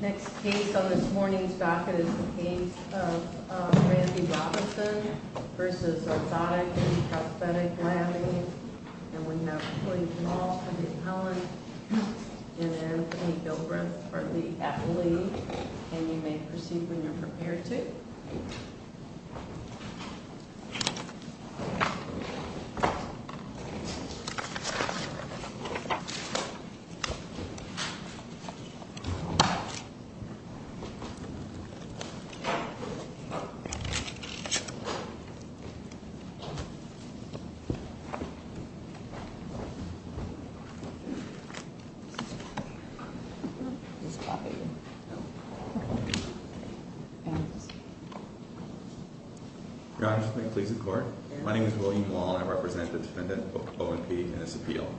Next case on this morning's backet is the case of Randy Robinson v. Orthotic & Prosthetic Labs, Inc. and we have Colleen Mall from the Appellant and Anthony Gilbreth from the Athlete. And you may proceed when you're prepared to. Please be seated. Your Honor, may it please the Court? My name is William Wall and I represent the defendant, O&P, in this appeal.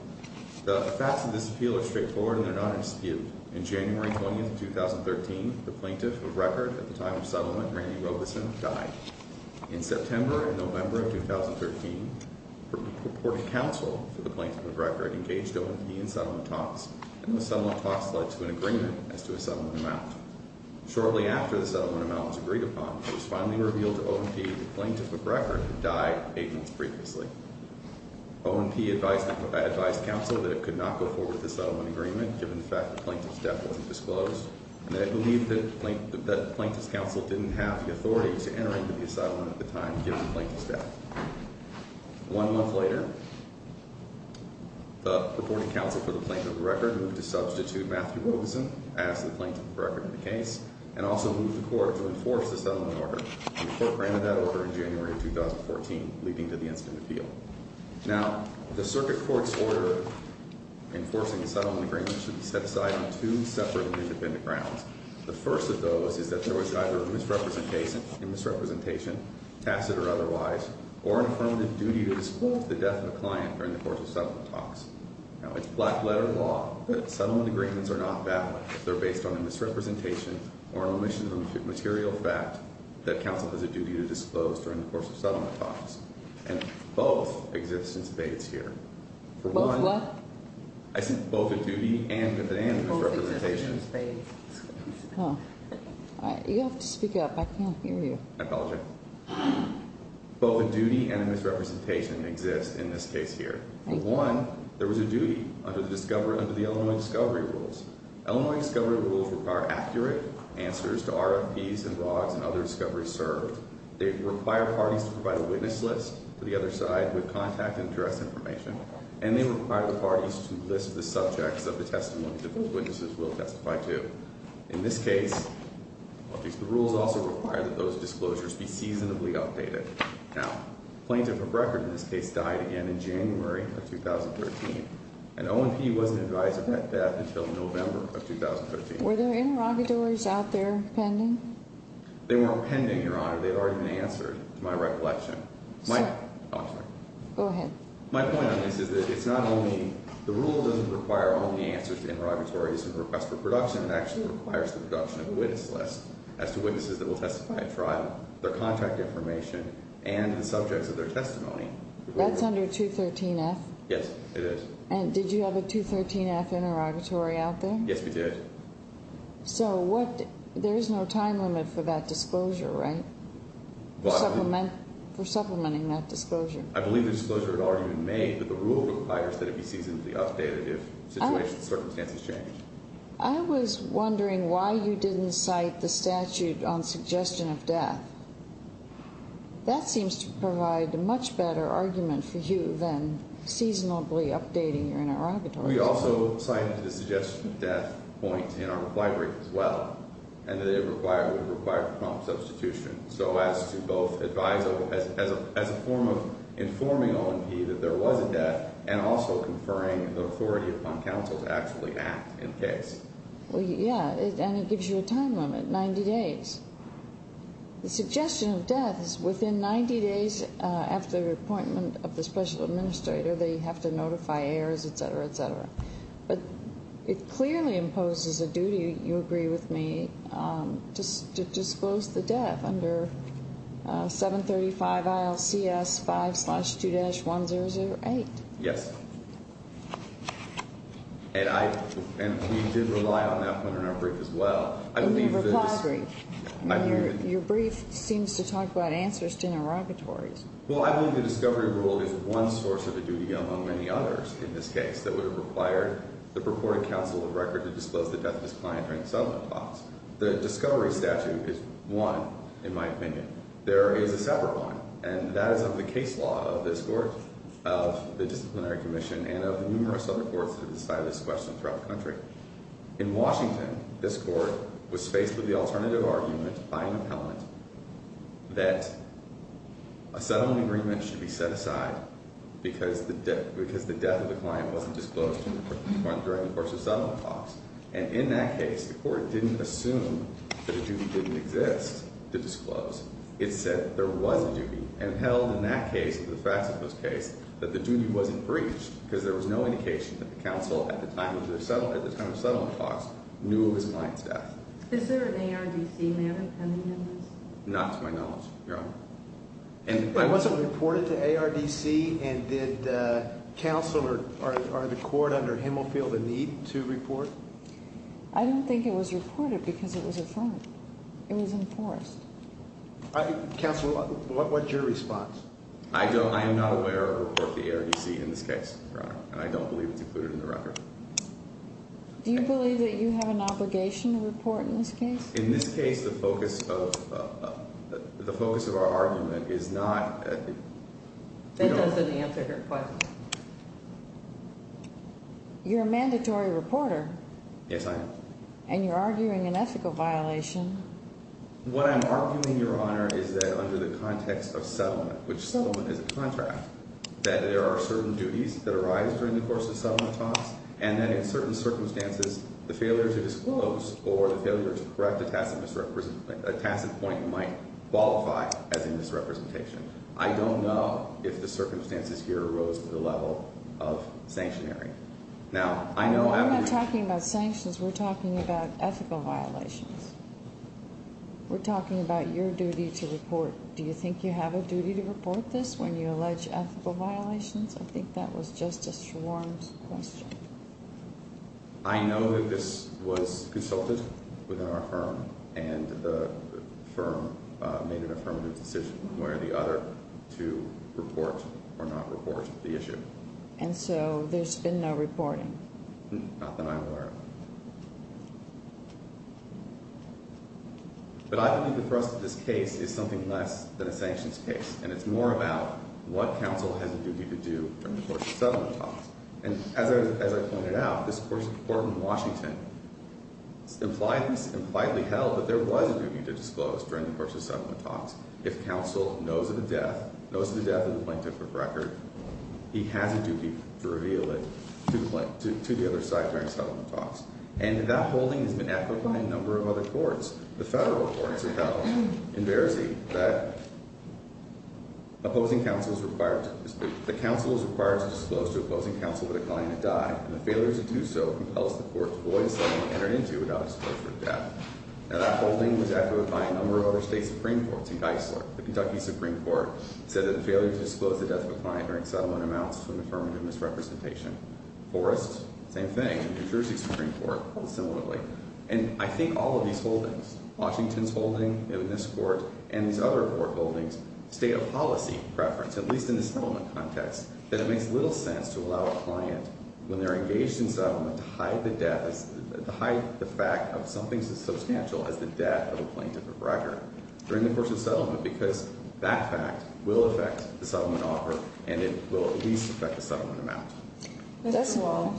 The facts of this appeal are straightforward and they're not in dispute. In January 20, 2013, the plaintiff of record at the time of settlement, Randy Robinson, died. In September and November of 2013, the purported counsel for the plaintiff of record engaged O&P in settlement talks and the settlement talks led to an agreement as to a settlement amount. Shortly after the settlement amount was agreed upon, it was finally revealed to O&P that the plaintiff of record had died 8 months previously. O&P advised counsel that it could not go forward with the settlement agreement given the fact that the plaintiff's death wasn't disclosed and they believed that the plaintiff's counsel didn't have the authority to enter into the settlement at the time given the plaintiff's death. One month later, the purported counsel for the plaintiff of record moved to substitute Matthew Robeson as the plaintiff of record in the case and also moved the Court to enforce the settlement order. The Court granted that order in January of 2014, leading to the incident appeal. Now, the circuit court's order enforcing the settlement agreement should be set aside on two separate and independent grounds. The first of those is that there was either a misrepresentation, tacit or otherwise, or an affirmative duty to disclose the death of a client during the course of settlement talks. Now, it's black letter law that settlement agreements are not valid if they're based on a misrepresentation or an omission of a material fact that counsel has a duty to disclose during the course of settlement talks. And both exist in spades here. For one, I said both a duty and a misrepresentation. You have to speak up. I can't hear you. I apologize. Both a duty and a misrepresentation exist in this case here. For one, there was a duty under the Illinois Discovery Rules. Illinois Discovery Rules require accurate answers to RFPs and ROGs and other discoveries served. They require parties to provide a witness list to the other side with contact and address information. And they require the parties to list the subjects of the testimony that those witnesses will testify to. In this case, the rules also require that those disclosures be seasonably updated. Now, Plaintiff of Record in this case died again in January of 2013. An O&P wasn't advised of my death until November of 2013. Were there interrogatories out there pending? They weren't pending, Your Honor. They had already been answered to my recollection. Go ahead. My point on this is that it's not only the rule doesn't require only answers to interrogatories and requests for production. It actually requires the production of a witness list as to witnesses that will testify at trial, their contact information, and the subjects of their testimony. That's under 213F? Yes, it is. And did you have a 213F interrogatory out there? Yes, we did. So there is no time limit for that disclosure, right, for supplementing that disclosure? I believe the disclosure had already been made, but the rule requires that it be seasonably updated if circumstances change. I was wondering why you didn't cite the statute on suggestion of death. That seems to provide a much better argument for you than seasonably updating your interrogatories. We also cited a suggestion of death point in our reply brief as well, and that it would require prompt substitution. So as to both advise as a form of informing O&P that there was a death and also conferring the authority upon counsel to actually act in case. Well, yeah, and it gives you a time limit, 90 days. The suggestion of death is within 90 days after the appointment of the special administrator. They have to notify heirs, et cetera, et cetera. But it clearly imposes a duty, you agree with me, to disclose the death under 735 ILCS 5-2-1008. Yes, and we did rely on that point in our brief as well. In your reply brief. Your brief seems to talk about answers to interrogatories. Well, I believe the discovery rule is one source of a duty among many others in this case that would have required the purported counsel of record to disclose the death of his client during the settlement talks. The discovery statute is one, in my opinion. There is a separate one, and that is of the case law of this court, of the disciplinary commission, In Washington, this court was faced with the alternative argument by an appellant that a settlement agreement should be set aside because the death of the client wasn't disclosed during the course of settlement talks. And in that case, the court didn't assume that a duty didn't exist to disclose. It said there was a duty, and held in that case, the facts of this case, that the duty wasn't breached because there was no indication that the counsel at the time of the settlement talks knew of his client's death. Is there an ARDC manner pending in this? Not to my knowledge, Your Honor. But was it reported to ARDC? And did counsel or the court under Himmelfield in need to report? I don't think it was reported because it was affirmed. It was enforced. Counsel, what's your response? I am not aware of a report to ARDC in this case, Your Honor, and I don't believe it's included in the record. Do you believe that you have an obligation to report in this case? In this case, the focus of our argument is not ethical. That doesn't answer her question. You're a mandatory reporter. Yes, I am. And you're arguing an ethical violation. What I'm arguing, Your Honor, is that under the context of settlement, which settlement is a contract, that there are certain duties that arise during the course of settlement talks, and that in certain circumstances, the failure to disclose or the failure to correct a tacit point might qualify as a misrepresentation. I don't know if the circumstances here rose to the level of sanctionary. Now, I know after we've— We're not talking about sanctions. We're talking about ethical violations. We're talking about your duty to report. Do you think you have a duty to report this when you allege ethical violations? I think that was just a swarmed question. I know that this was consulted within our firm, and the firm made an affirmative decision where the other two report or not report the issue. And so there's been no reporting? Not that I'm aware of. But I believe the thrust of this case is something less than a sanctions case, and it's more about what counsel has a duty to do during the course of settlement talks. And as I pointed out, this court in Washington impliedly held that there was a duty to disclose during the course of settlement talks. If counsel knows of the death, knows of the death, and the plaintiff took record, he has a duty to reveal it to the other side during settlement talks. And that holding has been echoed by a number of other courts. The federal courts have held in Verzi that the counsel is required to disclose to opposing counsel the decline to die, and the failure to do so compels the court to void a settlement entered into without disclosure of death. Now, that holding was echoed by a number of other state supreme courts. In Geisler, the Kentucky Supreme Court said that the failure to disclose the death of a client during settlement amounts to an affirmative misrepresentation. Forrest, same thing. New Jersey Supreme Court held similarly. And I think all of these holdings, Washington's holding in this court and these other four holdings, state of policy preference, at least in the settlement context, that it makes little sense to allow a client, when they're engaged in settlement, to hide the fact of something substantial as the death of a plaintiff or broker during the course of settlement. Because that fact will affect the settlement offer, and it will at least affect the settlement amount. Mr. Wall,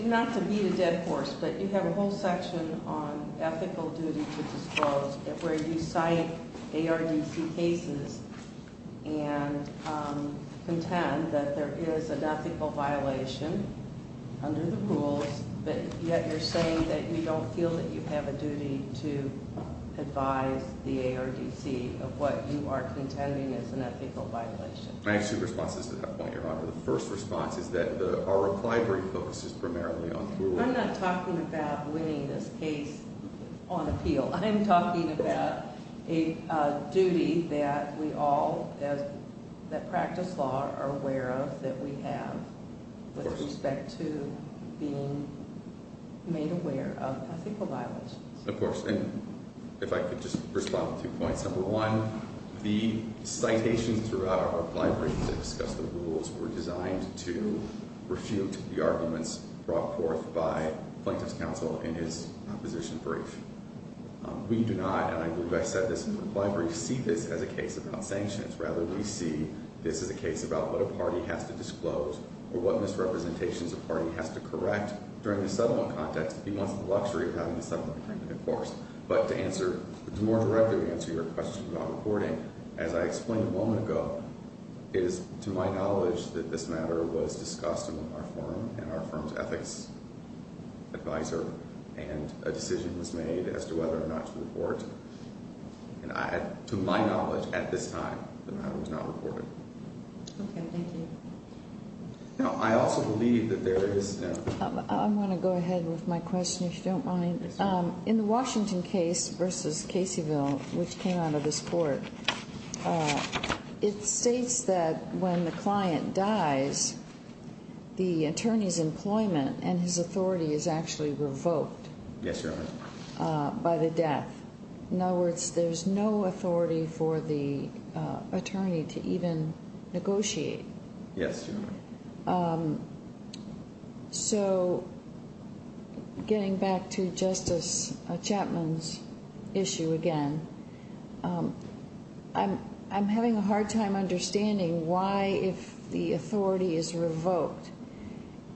not to beat a dead horse, but you have a whole section on ethical duty to disclose, where you cite ARDC cases and contend that there is an ethical violation under the rules. But yet you're saying that you don't feel that you have a duty to advise the ARDC of what you are contending is an ethical violation. I have two responses to that point, Your Honor. The first response is that our reply brief focuses primarily on- I'm not talking about winning this case on appeal. I'm talking about a duty that we all, that practice law, are aware of that we have with respect to being made aware of ethical violations. Of course, and if I could just respond to two points. Number one, the citations throughout our reply brief that discuss the rules were designed to refute the arguments brought forth by plaintiff's counsel in his opposition brief. We do not, and I believe I said this in the reply brief, see this as a case about sanctions. Rather, we see this as a case about what a party has to disclose, or what misrepresentations a party has to correct during the settlement context if he wants the luxury of having a settlement agreement, of course. But to answer, to more directly answer your question about reporting, as I explained a moment ago, it is to my knowledge that this matter was discussed with our firm and our firm's ethics advisor, and a decision was made as to whether or not to report. And to my knowledge at this time, the matter was not reported. Okay, thank you. Now, I also believe that there is- I'm going to go ahead with my question, if you don't mind. Yes, ma'am. In the Washington case versus Caseyville, which came out of this court, it states that when the client dies, the attorney's employment and his authority is actually revoked. Yes, Your Honor. By the death. In other words, there's no authority for the attorney to even negotiate. Yes, Your Honor. So getting back to Justice Chapman's issue again, I'm having a hard time understanding why if the authority is revoked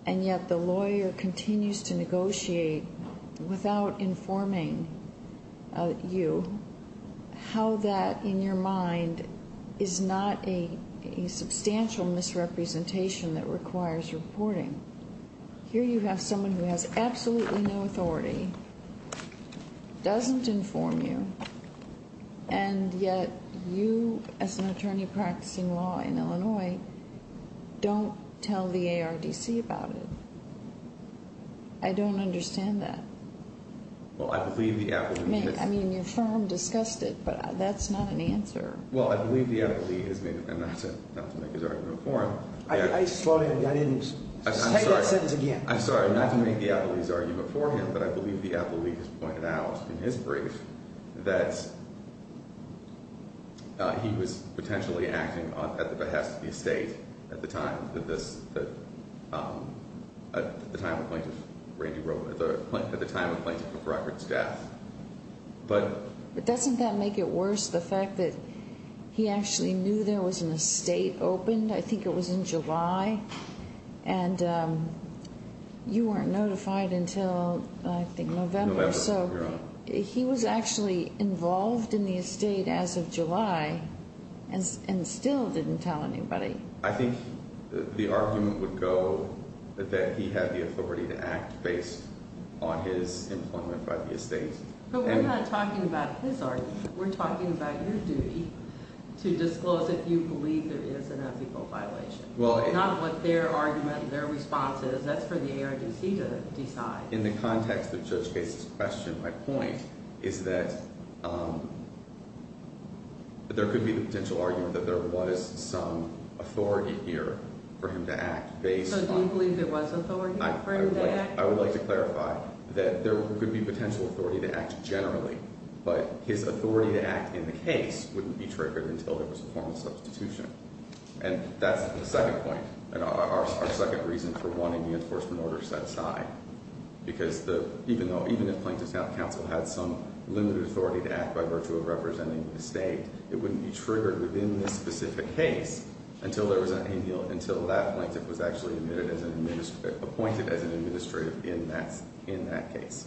and yet the lawyer continues to negotiate without informing you, how that in your mind is not a substantial misrepresentation that requires reporting. Here you have someone who has absolutely no authority, doesn't inform you, and yet you as an attorney practicing law in Illinois don't tell the ARDC about it. I don't understand that. Well, I believe the applicant- I mean, your firm discussed it, but that's not an answer. Well, I believe the appellee has made- and not to make his argument for him- I just thought I didn't- I'm sorry. Say that sentence again. I'm sorry. Not to make the appellee's argument for him, but I believe the appellee has pointed out in his brief that he was potentially acting at the behest of the estate at the time of the plaintiff's death. But doesn't that make it worse, the fact that he actually knew there was an estate opened? I think it was in July, and you weren't notified until, I think, November. November. So he was actually involved in the estate as of July and still didn't tell anybody. I think the argument would go that he had the authority to act based on his employment by the estate. But we're not talking about his argument. We're talking about your duty to disclose if you believe there is an ethical violation, not what their argument, their response is. That's for the ARDC to decide. In the context of Judge Case's question, my point is that there could be the potential argument that there was some authority here for him to act. So do you believe there was authority for him to act? I would like to clarify that there could be potential authority to act generally, but his authority to act in the case wouldn't be triggered until there was a formal substitution. And that's the second point, our second reason for wanting the enforcement order set aside. Because even if Plaintiff's Counsel had some limited authority to act by virtue of representing the estate, it wouldn't be triggered within the specific case until that plaintiff was actually appointed as an administrative in that case.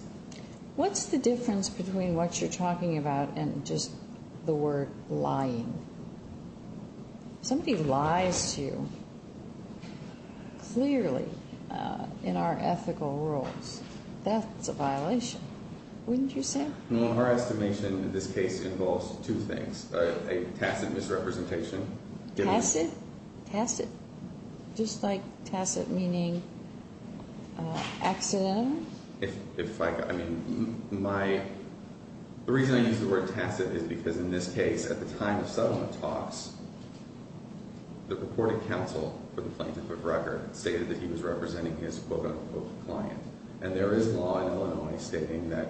What's the difference between what you're talking about and just the word lying? If somebody lies to you clearly in our ethical rules, that's a violation, wouldn't you say? Well, our estimation in this case involves two things, a tacit misrepresentation. Tacit? Tacit. Just like tacit meaning accidental? The reason I use the word tacit is because in this case, at the time of settlement talks, the reported counsel for the plaintiff of record stated that he was representing his quote-unquote client. And there is law in Illinois stating that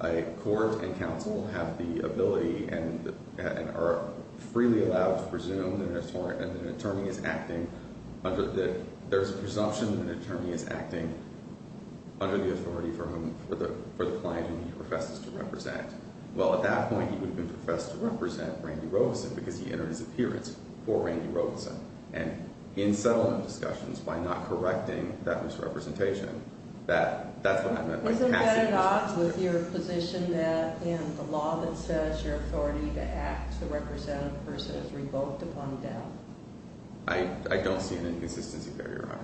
a court and counsel have the ability and are freely allowed to presume that an attorney is acting under the authority for the client whom he professes to represent. Well, at that point, he would have been professed to represent Randy Robeson because he entered his appearance for Randy Robeson. And in settlement discussions, by not correcting that misrepresentation, that's what I meant by tacit misrepresentation. Isn't that at odds with your position that in the law that says your authority to act to represent a person is revoked upon death? I don't see an inconsistency there, Your Honor.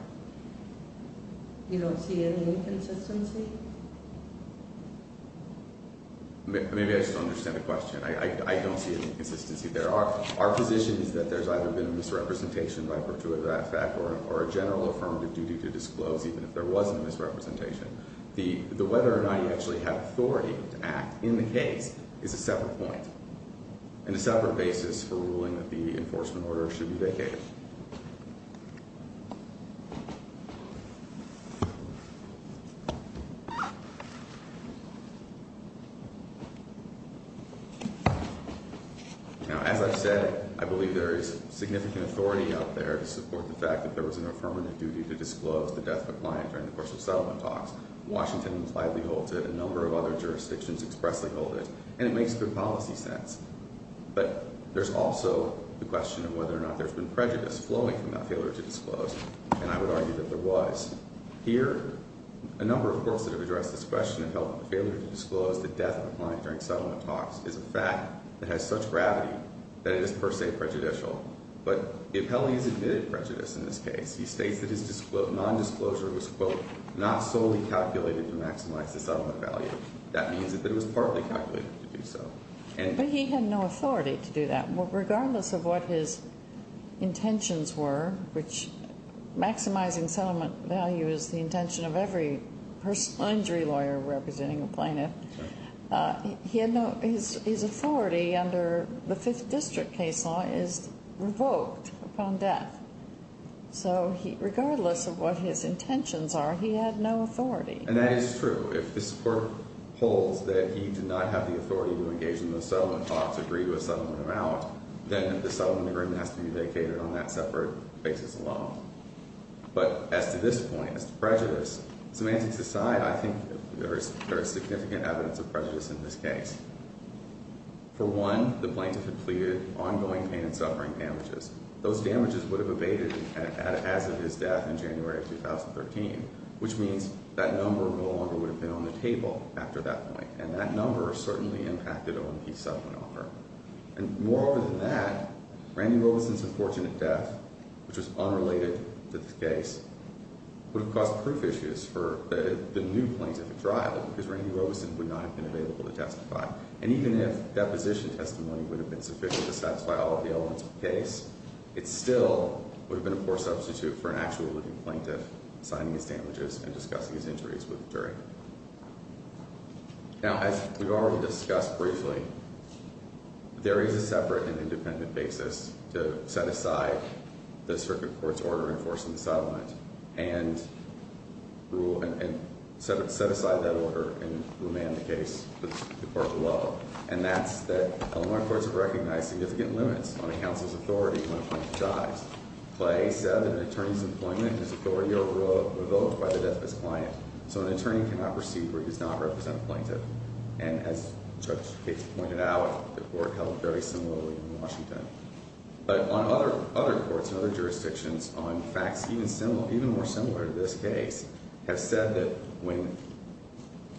You don't see any inconsistency? Maybe I just don't understand the question. I don't see any inconsistency there. Our position is that there's either been a misrepresentation by purtuit of that fact or a general affirmative duty to disclose even if there was a misrepresentation. The whether or not you actually have authority to act in the case is a separate point and a separate basis for ruling that the enforcement order should be vacated. Now, as I've said, I believe there is significant authority out there to support the fact that there was an affirmative duty to disclose the death of a client during the course of settlement talks. Washington impliedly holds it. A number of other jurisdictions expressly hold it. And it makes good policy sense. But there's also the question of whether or not there's been prejudice flowing from that failure to disclose. And I would argue that there was. Here, a number of courts that have addressed this question of failure to disclose the death of a client during settlement talks is a fact that has such gravity that it is per se prejudicial. But the appellee has admitted prejudice in this case. He states that his nondisclosure was, quote, not solely calculated to maximize the settlement value. That means that it was partly calculated to do so. But he had no authority to do that. Regardless of what his intentions were, which maximizing settlement value is the intention of every injury lawyer representing a plaintiff, his authority under the Fifth District case law is revoked upon death. So regardless of what his intentions are, he had no authority. And that is true. If this court holds that he did not have the authority to engage in those settlement talks, agree to a settlement amount, then the settlement agreement has to be vacated on that separate basis alone. But as to this point, as to prejudice, semantics aside, I think there is significant evidence of prejudice in this case. For one, the plaintiff had pleaded ongoing pain and suffering damages. Those damages would have abated as of his death in January of 2013. Which means that number no longer would have been on the table after that point. And that number certainly impacted OMP's settlement offer. And moreover than that, Randy Robeson's unfortunate death, which was unrelated to this case, would have caused proof issues for the new plaintiff's trial. Because Randy Robeson would not have been available to testify. And even if deposition testimony would have been sufficient to satisfy all of the elements of the case, it still would have been a poor substitute for an actual living plaintiff signing his damages and discussing his injuries with the jury. Now, as we've already discussed briefly, there is a separate and independent basis to set aside the circuit court's order enforcing the settlement. And set aside that order and remand the case to the court below. And that's that Illinois courts have recognized significant limits on a counsel's authority when a plaintiff dies. But IA said that an attorney's employment is authority over a vote by the death of his client. So an attorney cannot proceed where he does not represent the plaintiff. And as Judge Gates pointed out, the court held very similarly in Washington. But on other courts and other jurisdictions on facts even more similar to this case, have said that when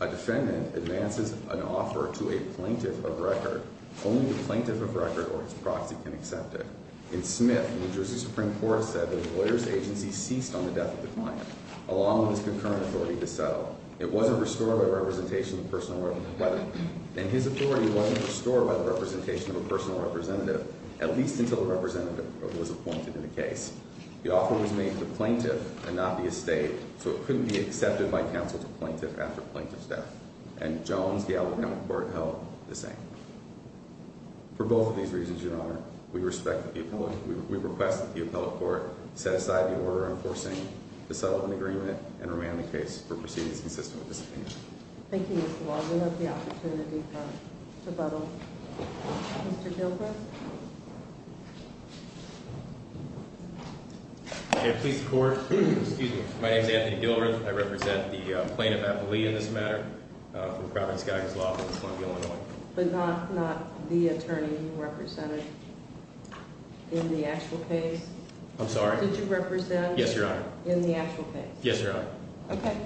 a defendant advances an offer to a plaintiff of record, only the plaintiff of record or his proxy can accept it. In Smith, New Jersey Supreme Court said that the lawyer's agency ceased on the death of the client, along with his concurrent authority to settle. It wasn't restored by the representation of a personal representative, at least until the representative was appointed in the case. The offer was made to the plaintiff and not the estate. So it couldn't be accepted by counsel to plaintiff after plaintiff's death. And Jones, Gallup, and the court held the same. For both of these reasons, Your Honor, we request that the appellate court set aside the order enforcing the settlement agreement and remand the case for proceedings consistent with this opinion. Thank you, Mr. Waldron. We have the opportunity for rebuttal. Mr. Dilbreath? May it please the court. Excuse me. My name is Anthony Dilbreath. I represent the plaintiff, Apollina, in this matter, for the Providence-Gagas law firm in Columbia, Illinois. But not the attorney you represented in the actual case? I'm sorry? Did you represent? Yes, Your Honor. In the actual case? Yes, Your Honor. Okay.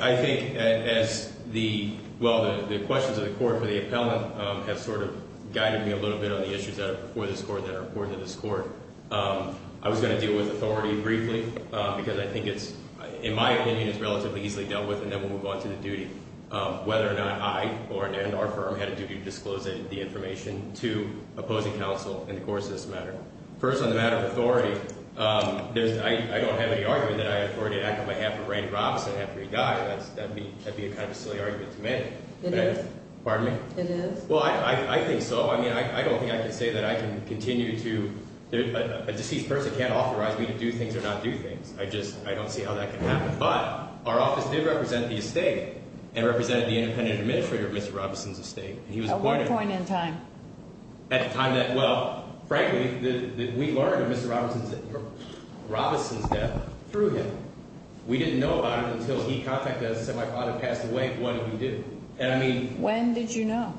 I think as the, well, the questions of the court for the appellant have sort of guided me a little bit on the issues that are before this court that are important to this court. I was going to deal with authority briefly, because I think it's, in my opinion, it's relatively easily dealt with, and then we'll move on to the duty. Whether or not I or our firm had a duty to disclose the information to opposing counsel in the course of this matter. First, on the matter of authority, I don't have any argument that I have authority to act on behalf of Randy Robinson after he died. That would be kind of a silly argument to make. It is. Pardon me? It is. Well, I think so. I mean, I don't think I can say that I can continue to, a deceased person can't authorize me to do things or not do things. I just, I don't see how that can happen. But our office did represent the estate and represented the independent administrator of Mr. Robinson's estate. At what point in time? At a time that, well, frankly, we learned of Mr. Robinson's death through him. We didn't know about it until he contacted us and said my father passed away when he did. And I mean. When did you know?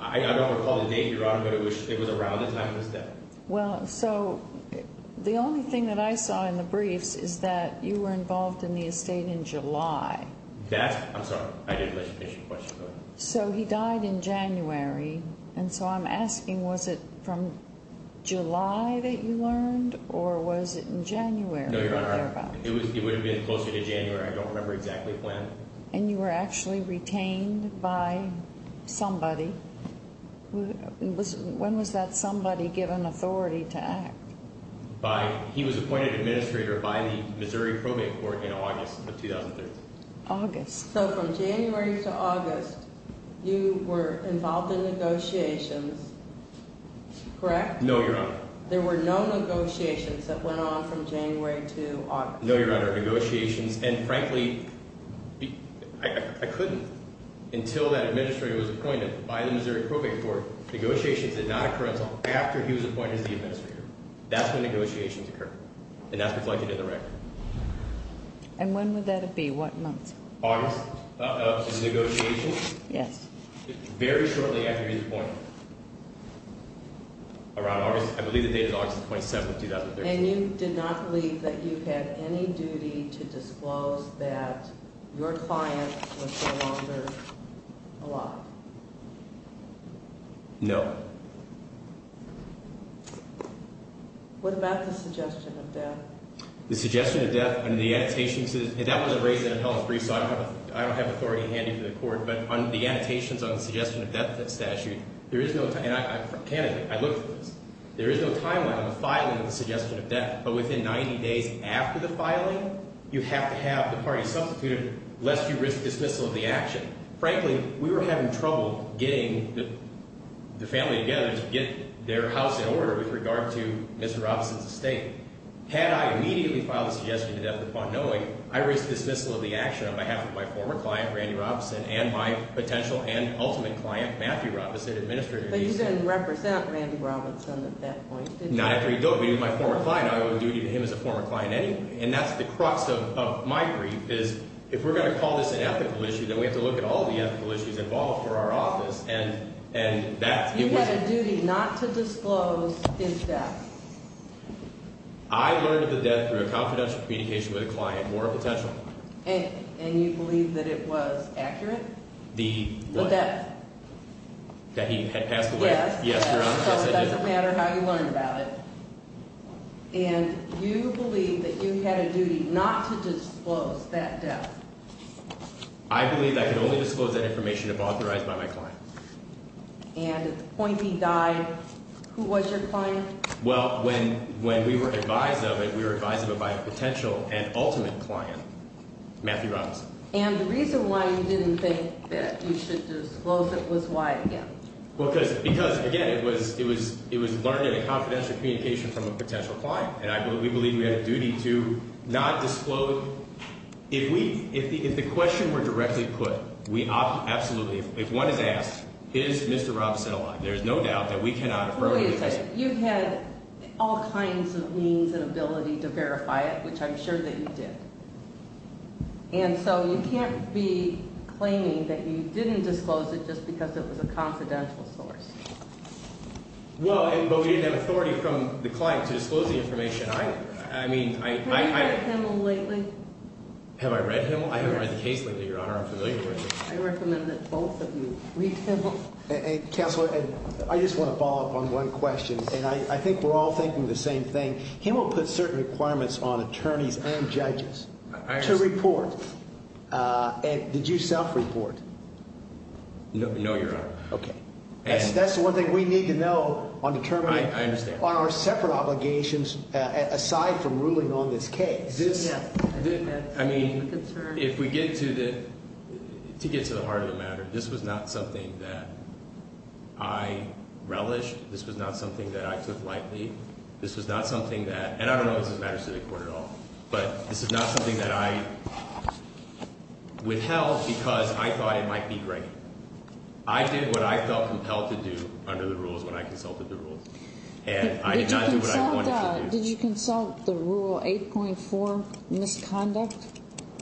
I don't recall the date, Your Honor, but it was around the time of his death. Well, so the only thing that I saw in the briefs is that you were involved in the estate in July. That's. I'm sorry. I didn't let you finish your question. So he died in January. And so I'm asking was it from July that you learned or was it in January? No, Your Honor. It would have been closer to January. I don't remember exactly when. And you were actually retained by somebody. When was that somebody given authority to act? By, he was appointed administrator by the Missouri Probate Court in August of 2003. August. So from January to August you were involved in negotiations, correct? No, Your Honor. There were no negotiations that went on from January to August. No, Your Honor. And, frankly, I couldn't until that administrator was appointed by the Missouri Probate Court. Negotiations did not occur until after he was appointed as the administrator. That's when negotiations occurred. And that's reflected in the record. And when would that be? What month? August of the negotiations. Yes. Very shortly after he was appointed. Around August. I believe the date is August 27, 2003. And you did not believe that you had any duty to disclose that your client was no longer alive? No. What about the suggestion of death? The suggestion of death and the annotations, and that was erased in a held brief, so I don't have authority handed to the court, but on the annotations on the suggestion of death statute, there is no, and I'm a candidate, I looked for this, there is no timeline on the filing of the suggestion of death, but within 90 days after the filing, you have to have the party substituted lest you risk dismissal of the action. Frankly, we were having trouble getting the family together to get their house in order with regard to Mr. Robinson's estate. Had I immediately filed the suggestion of death upon knowing, I risked dismissal of the action on behalf of my former client, Randy Robinson, and my potential and ultimate client, Matthew Robinson, administrator of the estate. You didn't represent Randy Robinson at that point, did you? Not after he died, but he was my former client, I would do to him as a former client anyway. And that's the crux of my brief, is if we're going to call this an ethical issue, then we have to look at all the ethical issues involved for our office. And that's – You had a duty not to disclose his death. I learned of the death through a confidential communication with a client, moral potential. And you believe that it was accurate? The what? The death. That he had passed away? Yes. Yes, you're right. Yes, I did. So it doesn't matter how you learned about it. And you believe that you had a duty not to disclose that death. I believe I could only disclose that information if authorized by my client. And at the point he died, who was your client? Well, when we were advised of it, we were advised of it by a potential and ultimate client, Matthew Robinson. And the reason why you didn't think that you should disclose it was why, again? Because, again, it was learned in a confidential communication from a potential client. And we believe we had a duty to not disclose – if the question were directly put, we absolutely – if one is asked, is Mr. Robinson alive, there's no doubt that we cannot affirm the testimony. You had all kinds of means and ability to verify it, which I'm sure that you did. And so you can't be claiming that you didn't disclose it just because it was a confidential source. Well, but we didn't have authority from the client to disclose the information. I mean, I – Have you read Himmel lately? Have I read Himmel? I haven't read the case lately, Your Honor. I'm familiar with it. I recommend that both of you read Himmel. Counselor, I just want to follow up on one question, and I think we're all thinking the same thing. Himmel put certain requirements on attorneys and judges to report. Did you self-report? No, Your Honor. Okay. That's the one thing we need to know on determining – I understand. – on our separate obligations aside from ruling on this case. This – I mean, if we get to the – to get to the heart of the matter, this was not something that I relished. This was not something that I took lightly. This was not something that – and I don't know if this matters to the court at all. But this is not something that I withheld because I thought it might be great. I did what I felt compelled to do under the rules when I consulted the rules. And I did not do what I wanted to do. Did you consult the rule 8.4, misconduct,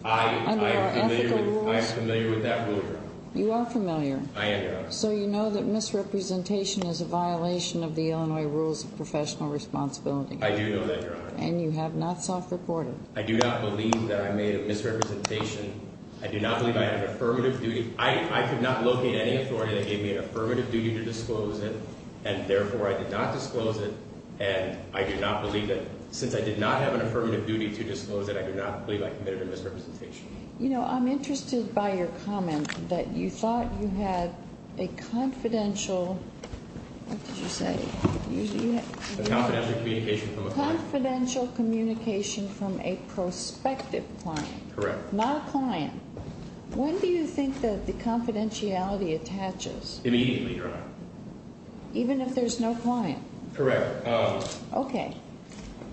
under our ethical rules? I am familiar with that rule, Your Honor. You are familiar. I am, Your Honor. So you know that misrepresentation is a violation of the Illinois Rules of Professional Responsibility. I do know that, Your Honor. And you have not self-reported. I do not believe that I made a misrepresentation. I do not believe I had an affirmative duty. I could not locate any authority that gave me an affirmative duty to disclose it, and therefore I did not disclose it. And I do not believe that – since I did not have an affirmative duty to disclose it, I do not believe I committed a misrepresentation. You know, I'm interested by your comment that you thought you had a confidential – what did you say? A confidential communication from a client. Confidential communication from a prospective client. Correct. Not a client. When do you think that the confidentiality attaches? Immediately, Your Honor. Even if there's no client? Correct. Okay.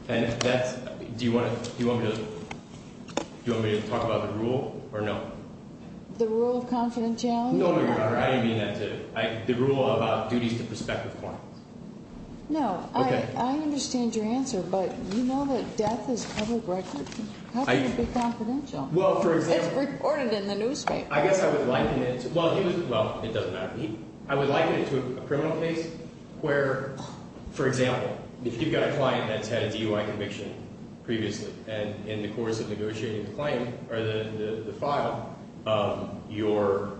And that's – do you want me to talk about the rule or no? The rule of confidentiality? No, Your Honor. I didn't mean that to – the rule about duties to prospective clients. No. Okay. I understand your answer, but you know that death is covered record. How can it be confidential? Well, for example – It's reported in the newspaper. I guess I would liken it to – well, it was – well, it doesn't matter. I would liken it to a criminal case where, for example, if you've got a client that's had a DUI conviction previously, and in the course of negotiating the claim or the file, your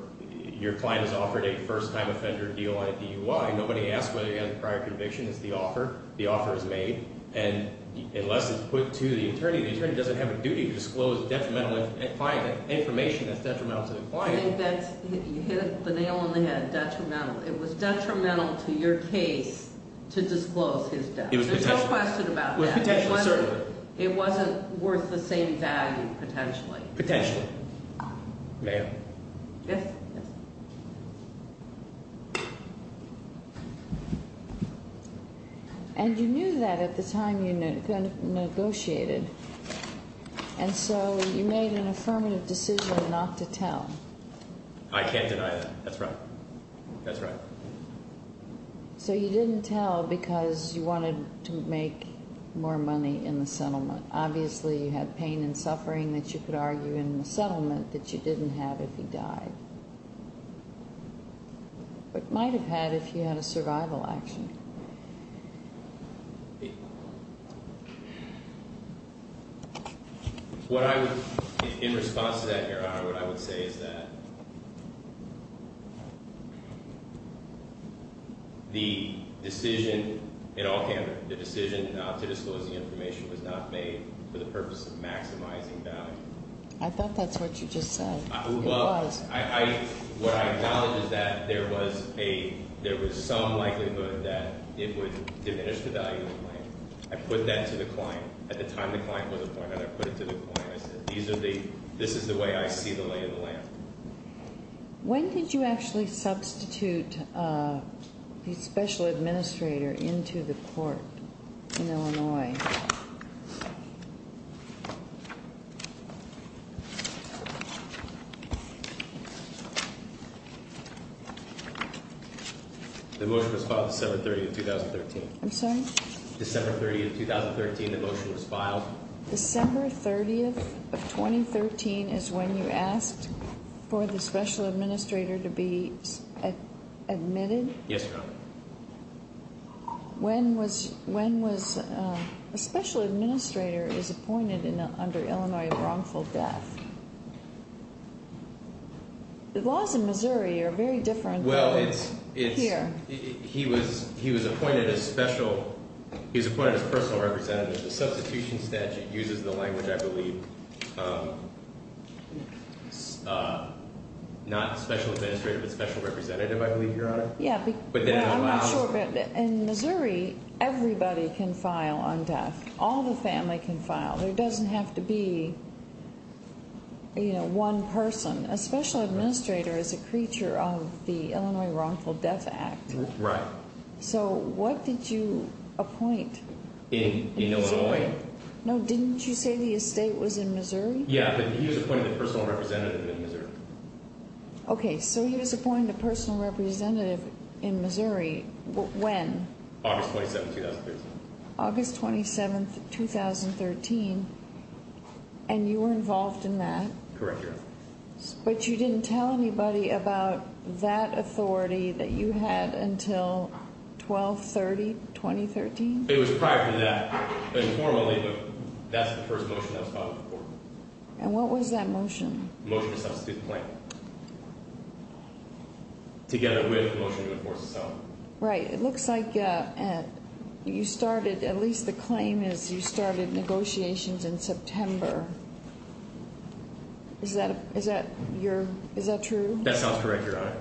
client has offered a first-time offender DUI. Nobody asks whether he had a prior conviction. It's the offer. The offer is made. And unless it's put to the attorney, the attorney doesn't have a duty to disclose detrimental information that's detrimental to the client. I think that's – you hit the nail on the head, detrimental. It was detrimental to your case to disclose his death. It was potential. There's no question about that. It was potential, certainly. It wasn't worth the same value, potentially. Potentially. May I? Yes. Yes. And you knew that at the time you negotiated, and so you made an affirmative decision not to tell. I can't deny that. That's right. That's right. So you didn't tell because you wanted to make more money in the settlement. Obviously, you had pain and suffering that you could argue in the settlement that you didn't have if he died. But you might have had if you had a survival action. What I would – in response to that, Your Honor, what I would say is that the decision, in all camera, the decision not to disclose the information was not made for the purpose of maximizing value. I thought that's what you just said. It was. What I acknowledge is that there was some likelihood that it would diminish the value of the claim. I put that to the client. At the time the client was appointed, I put it to the client. I said, this is the way I see the lay of the land. When did you actually substitute the special administrator into the court in Illinois? The motion was filed December 30, 2013. I'm sorry? December 30, 2013, the motion was filed. December 30th of 2013 is when you asked for the special administrator to be admitted? Yes, Your Honor. When was – a special administrator is appointed under Illinois wrongful death. The laws in Missouri are very different than here. He was appointed as special – he was appointed as personal representative. The substitution statute uses the language, I believe, not special administrator but special representative, I believe, Your Honor. Yeah. In Missouri, everybody can file on death. All the family can file. There doesn't have to be, you know, one person. A special administrator is a creature of the Illinois Wrongful Death Act. Right. So what did you appoint in Missouri? In Illinois. No, didn't you say the estate was in Missouri? Yeah, but he was appointed a personal representative in Missouri. Okay, so he was appointed a personal representative in Missouri when? August 27, 2013. August 27, 2013, and you were involved in that? Correct, Your Honor. But you didn't tell anybody about that authority that you had until 12-30, 2013? It was prior to that informally, but that's the first motion that was filed before. And what was that motion? Motion to substitute the claim together with the motion to enforce the settlement. Right. It looks like you started – at least the claim is you started negotiations in September. Is that true? That sounds correct, Your Honor.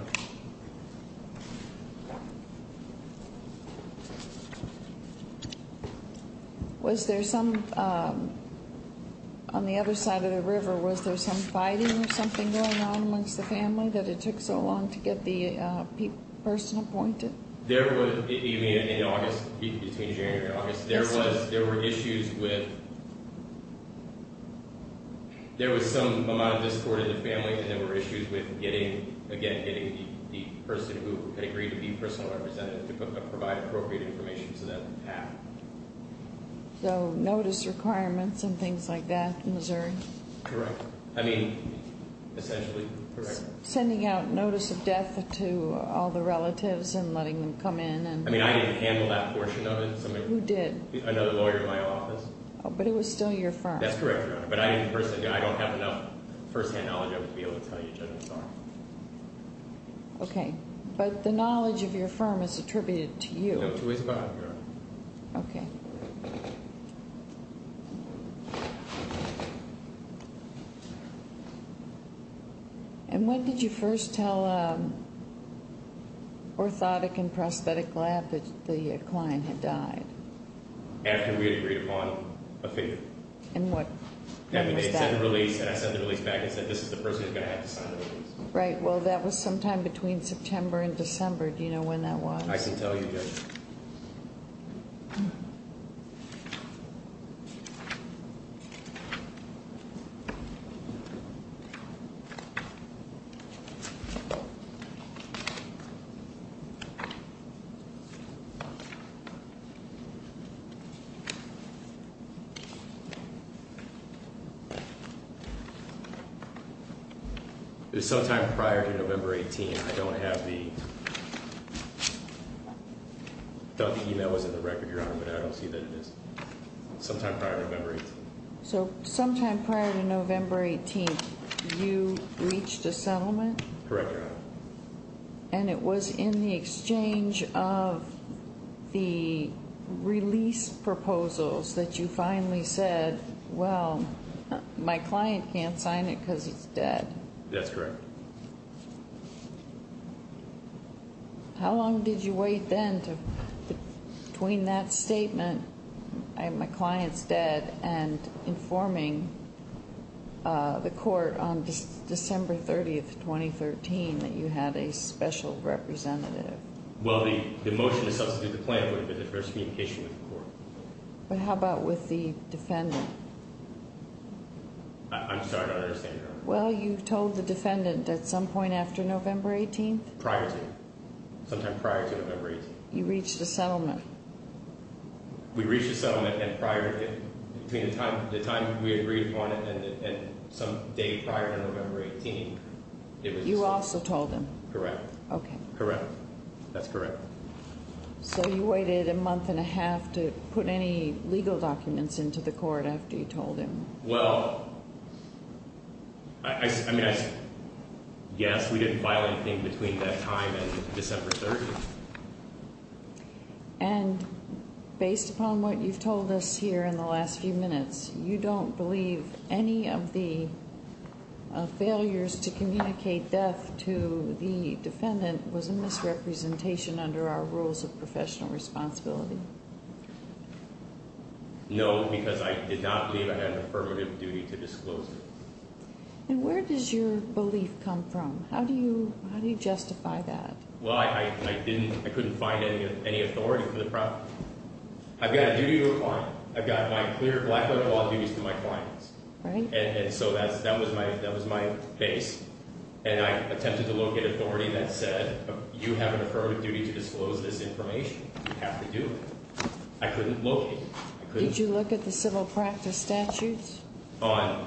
Was there some – on the other side of the river, was there some fighting or something going on amongst the family that it took so long to get the person appointed? There was – you mean in August, between January and August? Yes, sir. There were issues with – there was some amount of discord in the family, and there were issues with getting – again, getting the person who had agreed to be personal representative to provide appropriate information so that would happen. So notice requirements and things like that in Missouri? Correct. I mean, essentially, correct. Sending out notice of death to all the relatives and letting them come in and – I mean, I didn't handle that portion of it. Who did? Another lawyer in my office. But it was still your firm. That's correct, Your Honor. But I didn't personally – I don't have enough firsthand knowledge of it to be able to tell you, Judge, I'm sorry. Okay. But the knowledge of your firm is attributed to you. No choice about it, Your Honor. Okay. Thank you. And when did you first tell Orthotic and Prosthetic Lab that the client had died? After we had agreed upon a favor. And what was that? It said release, and I sent the release back. It said this is the person who's going to have to sign the release. Right. Well, that was sometime between September and December. Do you know when that was? I can tell you, Judge. Okay. Okay. Okay. Okay. Sometime prior to November 18th, I don't have the – I thought the email was in the record, Your Honor, but I don't see that it is. Sometime prior to November 18th. So sometime prior to November 18th, you reached a settlement? Correct, Your Honor. And it was in the exchange of the release proposals that you finally said, well, my client can't sign it because he's dead. That's correct. How long did you wait then between that statement, my client's dead, and informing the court on December 30th, 2013, that you had a special representative? Well, the motion to substitute the plan would have been the first communication with the court. But how about with the defendant? Well, you told the defendant at some point after November 18th? Prior to. Sometime prior to November 18th. You reached a settlement. We reached a settlement and prior to it, between the time we agreed upon it and some day prior to November 18th, it was – You also told him. Correct. Okay. Correct. That's correct. So you waited a month and a half to put any legal documents into the court after you told him? Well, I mean, yes, we didn't file anything between that time and December 30th. And based upon what you've told us here in the last few minutes, you don't believe any of the failures to communicate death to the defendant was a misrepresentation under our rules of professional responsibility? No, because I did not believe I had an affirmative duty to disclose it. And where does your belief come from? How do you justify that? Well, I didn't – I couldn't find any authority for the – I've got a duty to a client. I've got my clear black-letter law duties to my clients. Right. And so that was my base. And I attempted to locate authority that said, you have an affirmative duty to disclose this information. You have to do it. I couldn't locate it. Did you look at the civil practice statutes? On?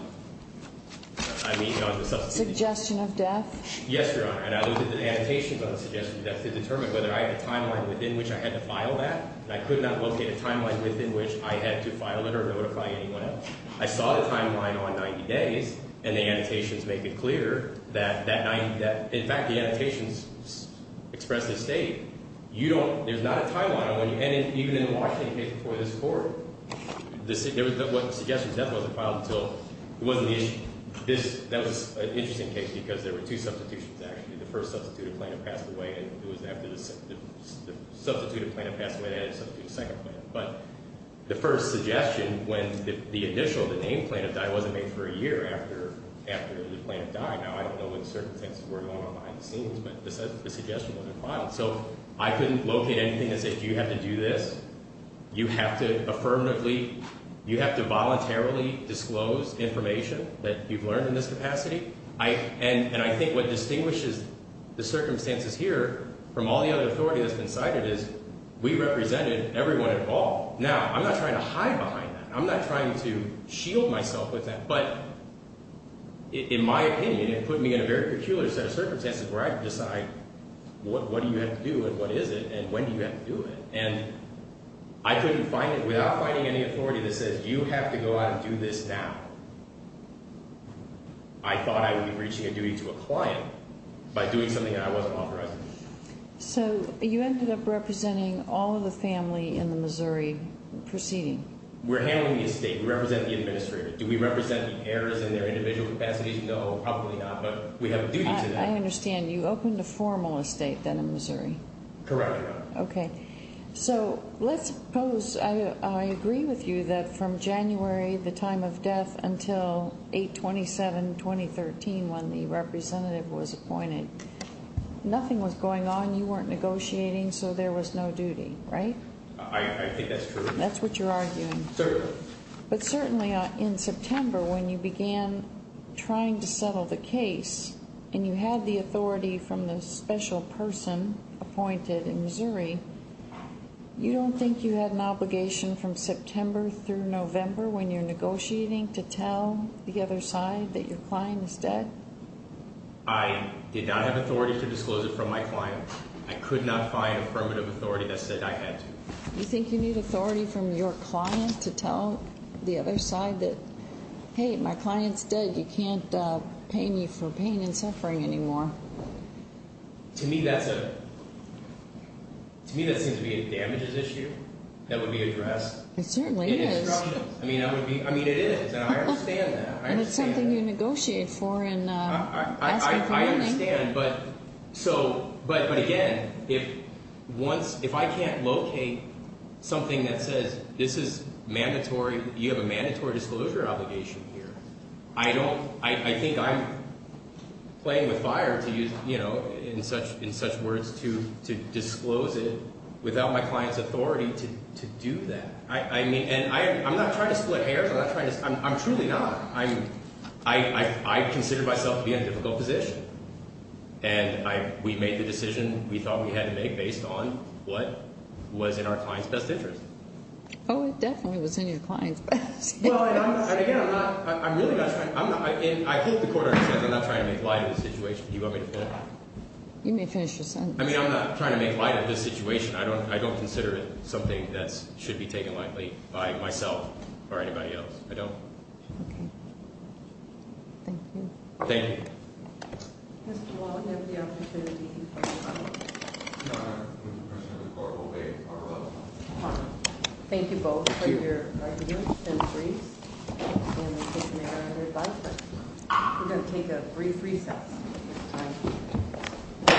I mean, on the substance abuse. Suggestion of death? Yes, Your Honor. And I looked at the annotations on the suggestion of death to determine whether I had a timeline within which I had to file that. And I could not locate a timeline within which I had to file it or notify anyone else. I saw the timeline on 90 days, and the annotations make it clear that that 90 – in fact, the annotations express the state. You don't – there's not a timeline on when you – and even in the Washington case before this court, the suggestion of death wasn't filed until – it wasn't the issue. That was an interesting case because there were two substitutions actually. The first substituted plaintiff passed away, and it was after the substituted plaintiff passed away, they had to substitute a second plaintiff. But the first suggestion, when the initial, the name plaintiff died, wasn't made for a year after the plaintiff died. Now, I don't know what circumstances were going on behind the scenes, but the suggestion wasn't filed. So I couldn't locate anything that said, do you have to do this? You have to affirmatively – you have to voluntarily disclose information that you've learned in this capacity. And I think what distinguishes the circumstances here from all the other authority that's been cited is we represented everyone involved. Now, I'm not trying to hide behind that. I'm not trying to shield myself with that. What do you have to do, and what is it, and when do you have to do it? And I couldn't find it – without finding any authority that says, you have to go out and do this now, I thought I would be reaching a duty to a client by doing something that I wasn't authorized to do. So you ended up representing all of the family in the Missouri proceeding. We're handling the estate. We represent the administrator. Do we represent the heirs and their individual capacities? No, probably not, but we have a duty to that. I understand. You opened a formal estate then in Missouri. Correct. Okay. So let's suppose – I agree with you that from January, the time of death, until 8-27-2013 when the representative was appointed, nothing was going on, you weren't negotiating, so there was no duty, right? I think that's true. That's what you're arguing. Certainly. But certainly in September when you began trying to settle the case and you had the authority from the special person appointed in Missouri, you don't think you had an obligation from September through November when you're negotiating to tell the other side that your client is dead? I did not have authority to disclose it from my client. I could not find affirmative authority that said I had to. You think you need authority from your client to tell the other side that, hey, my client's dead, you can't pay me for pain and suffering anymore? To me that seems to be a damages issue that would be addressed. It certainly is. I mean, it is, and I understand that. And it's something you negotiate for and ask for money. I understand, but again, if I can't locate something that says this is mandatory, you have a mandatory disclosure obligation here. I think I'm playing with fire, in such words, to disclose it without my client's authority to do that. And I'm not trying to split hairs. I'm truly not. I consider myself to be in a difficult position, and we made the decision we thought we had to make based on what was in our client's best interest. Oh, it definitely was in your client's best interest. Well, and again, I'm really not trying to make light of the situation. Do you want me to finish? You may finish your sentence. I mean, I'm not trying to make light of this situation. I don't consider it something that should be taken lightly by myself or anybody else. I don't. Okay. Thank you. Thank you. Mr. Wall, you have the opportunity to question. No, Your Honor. The person in the court will wait. Thank you both for your arguments and briefs. We're going to take a brief recess at this time.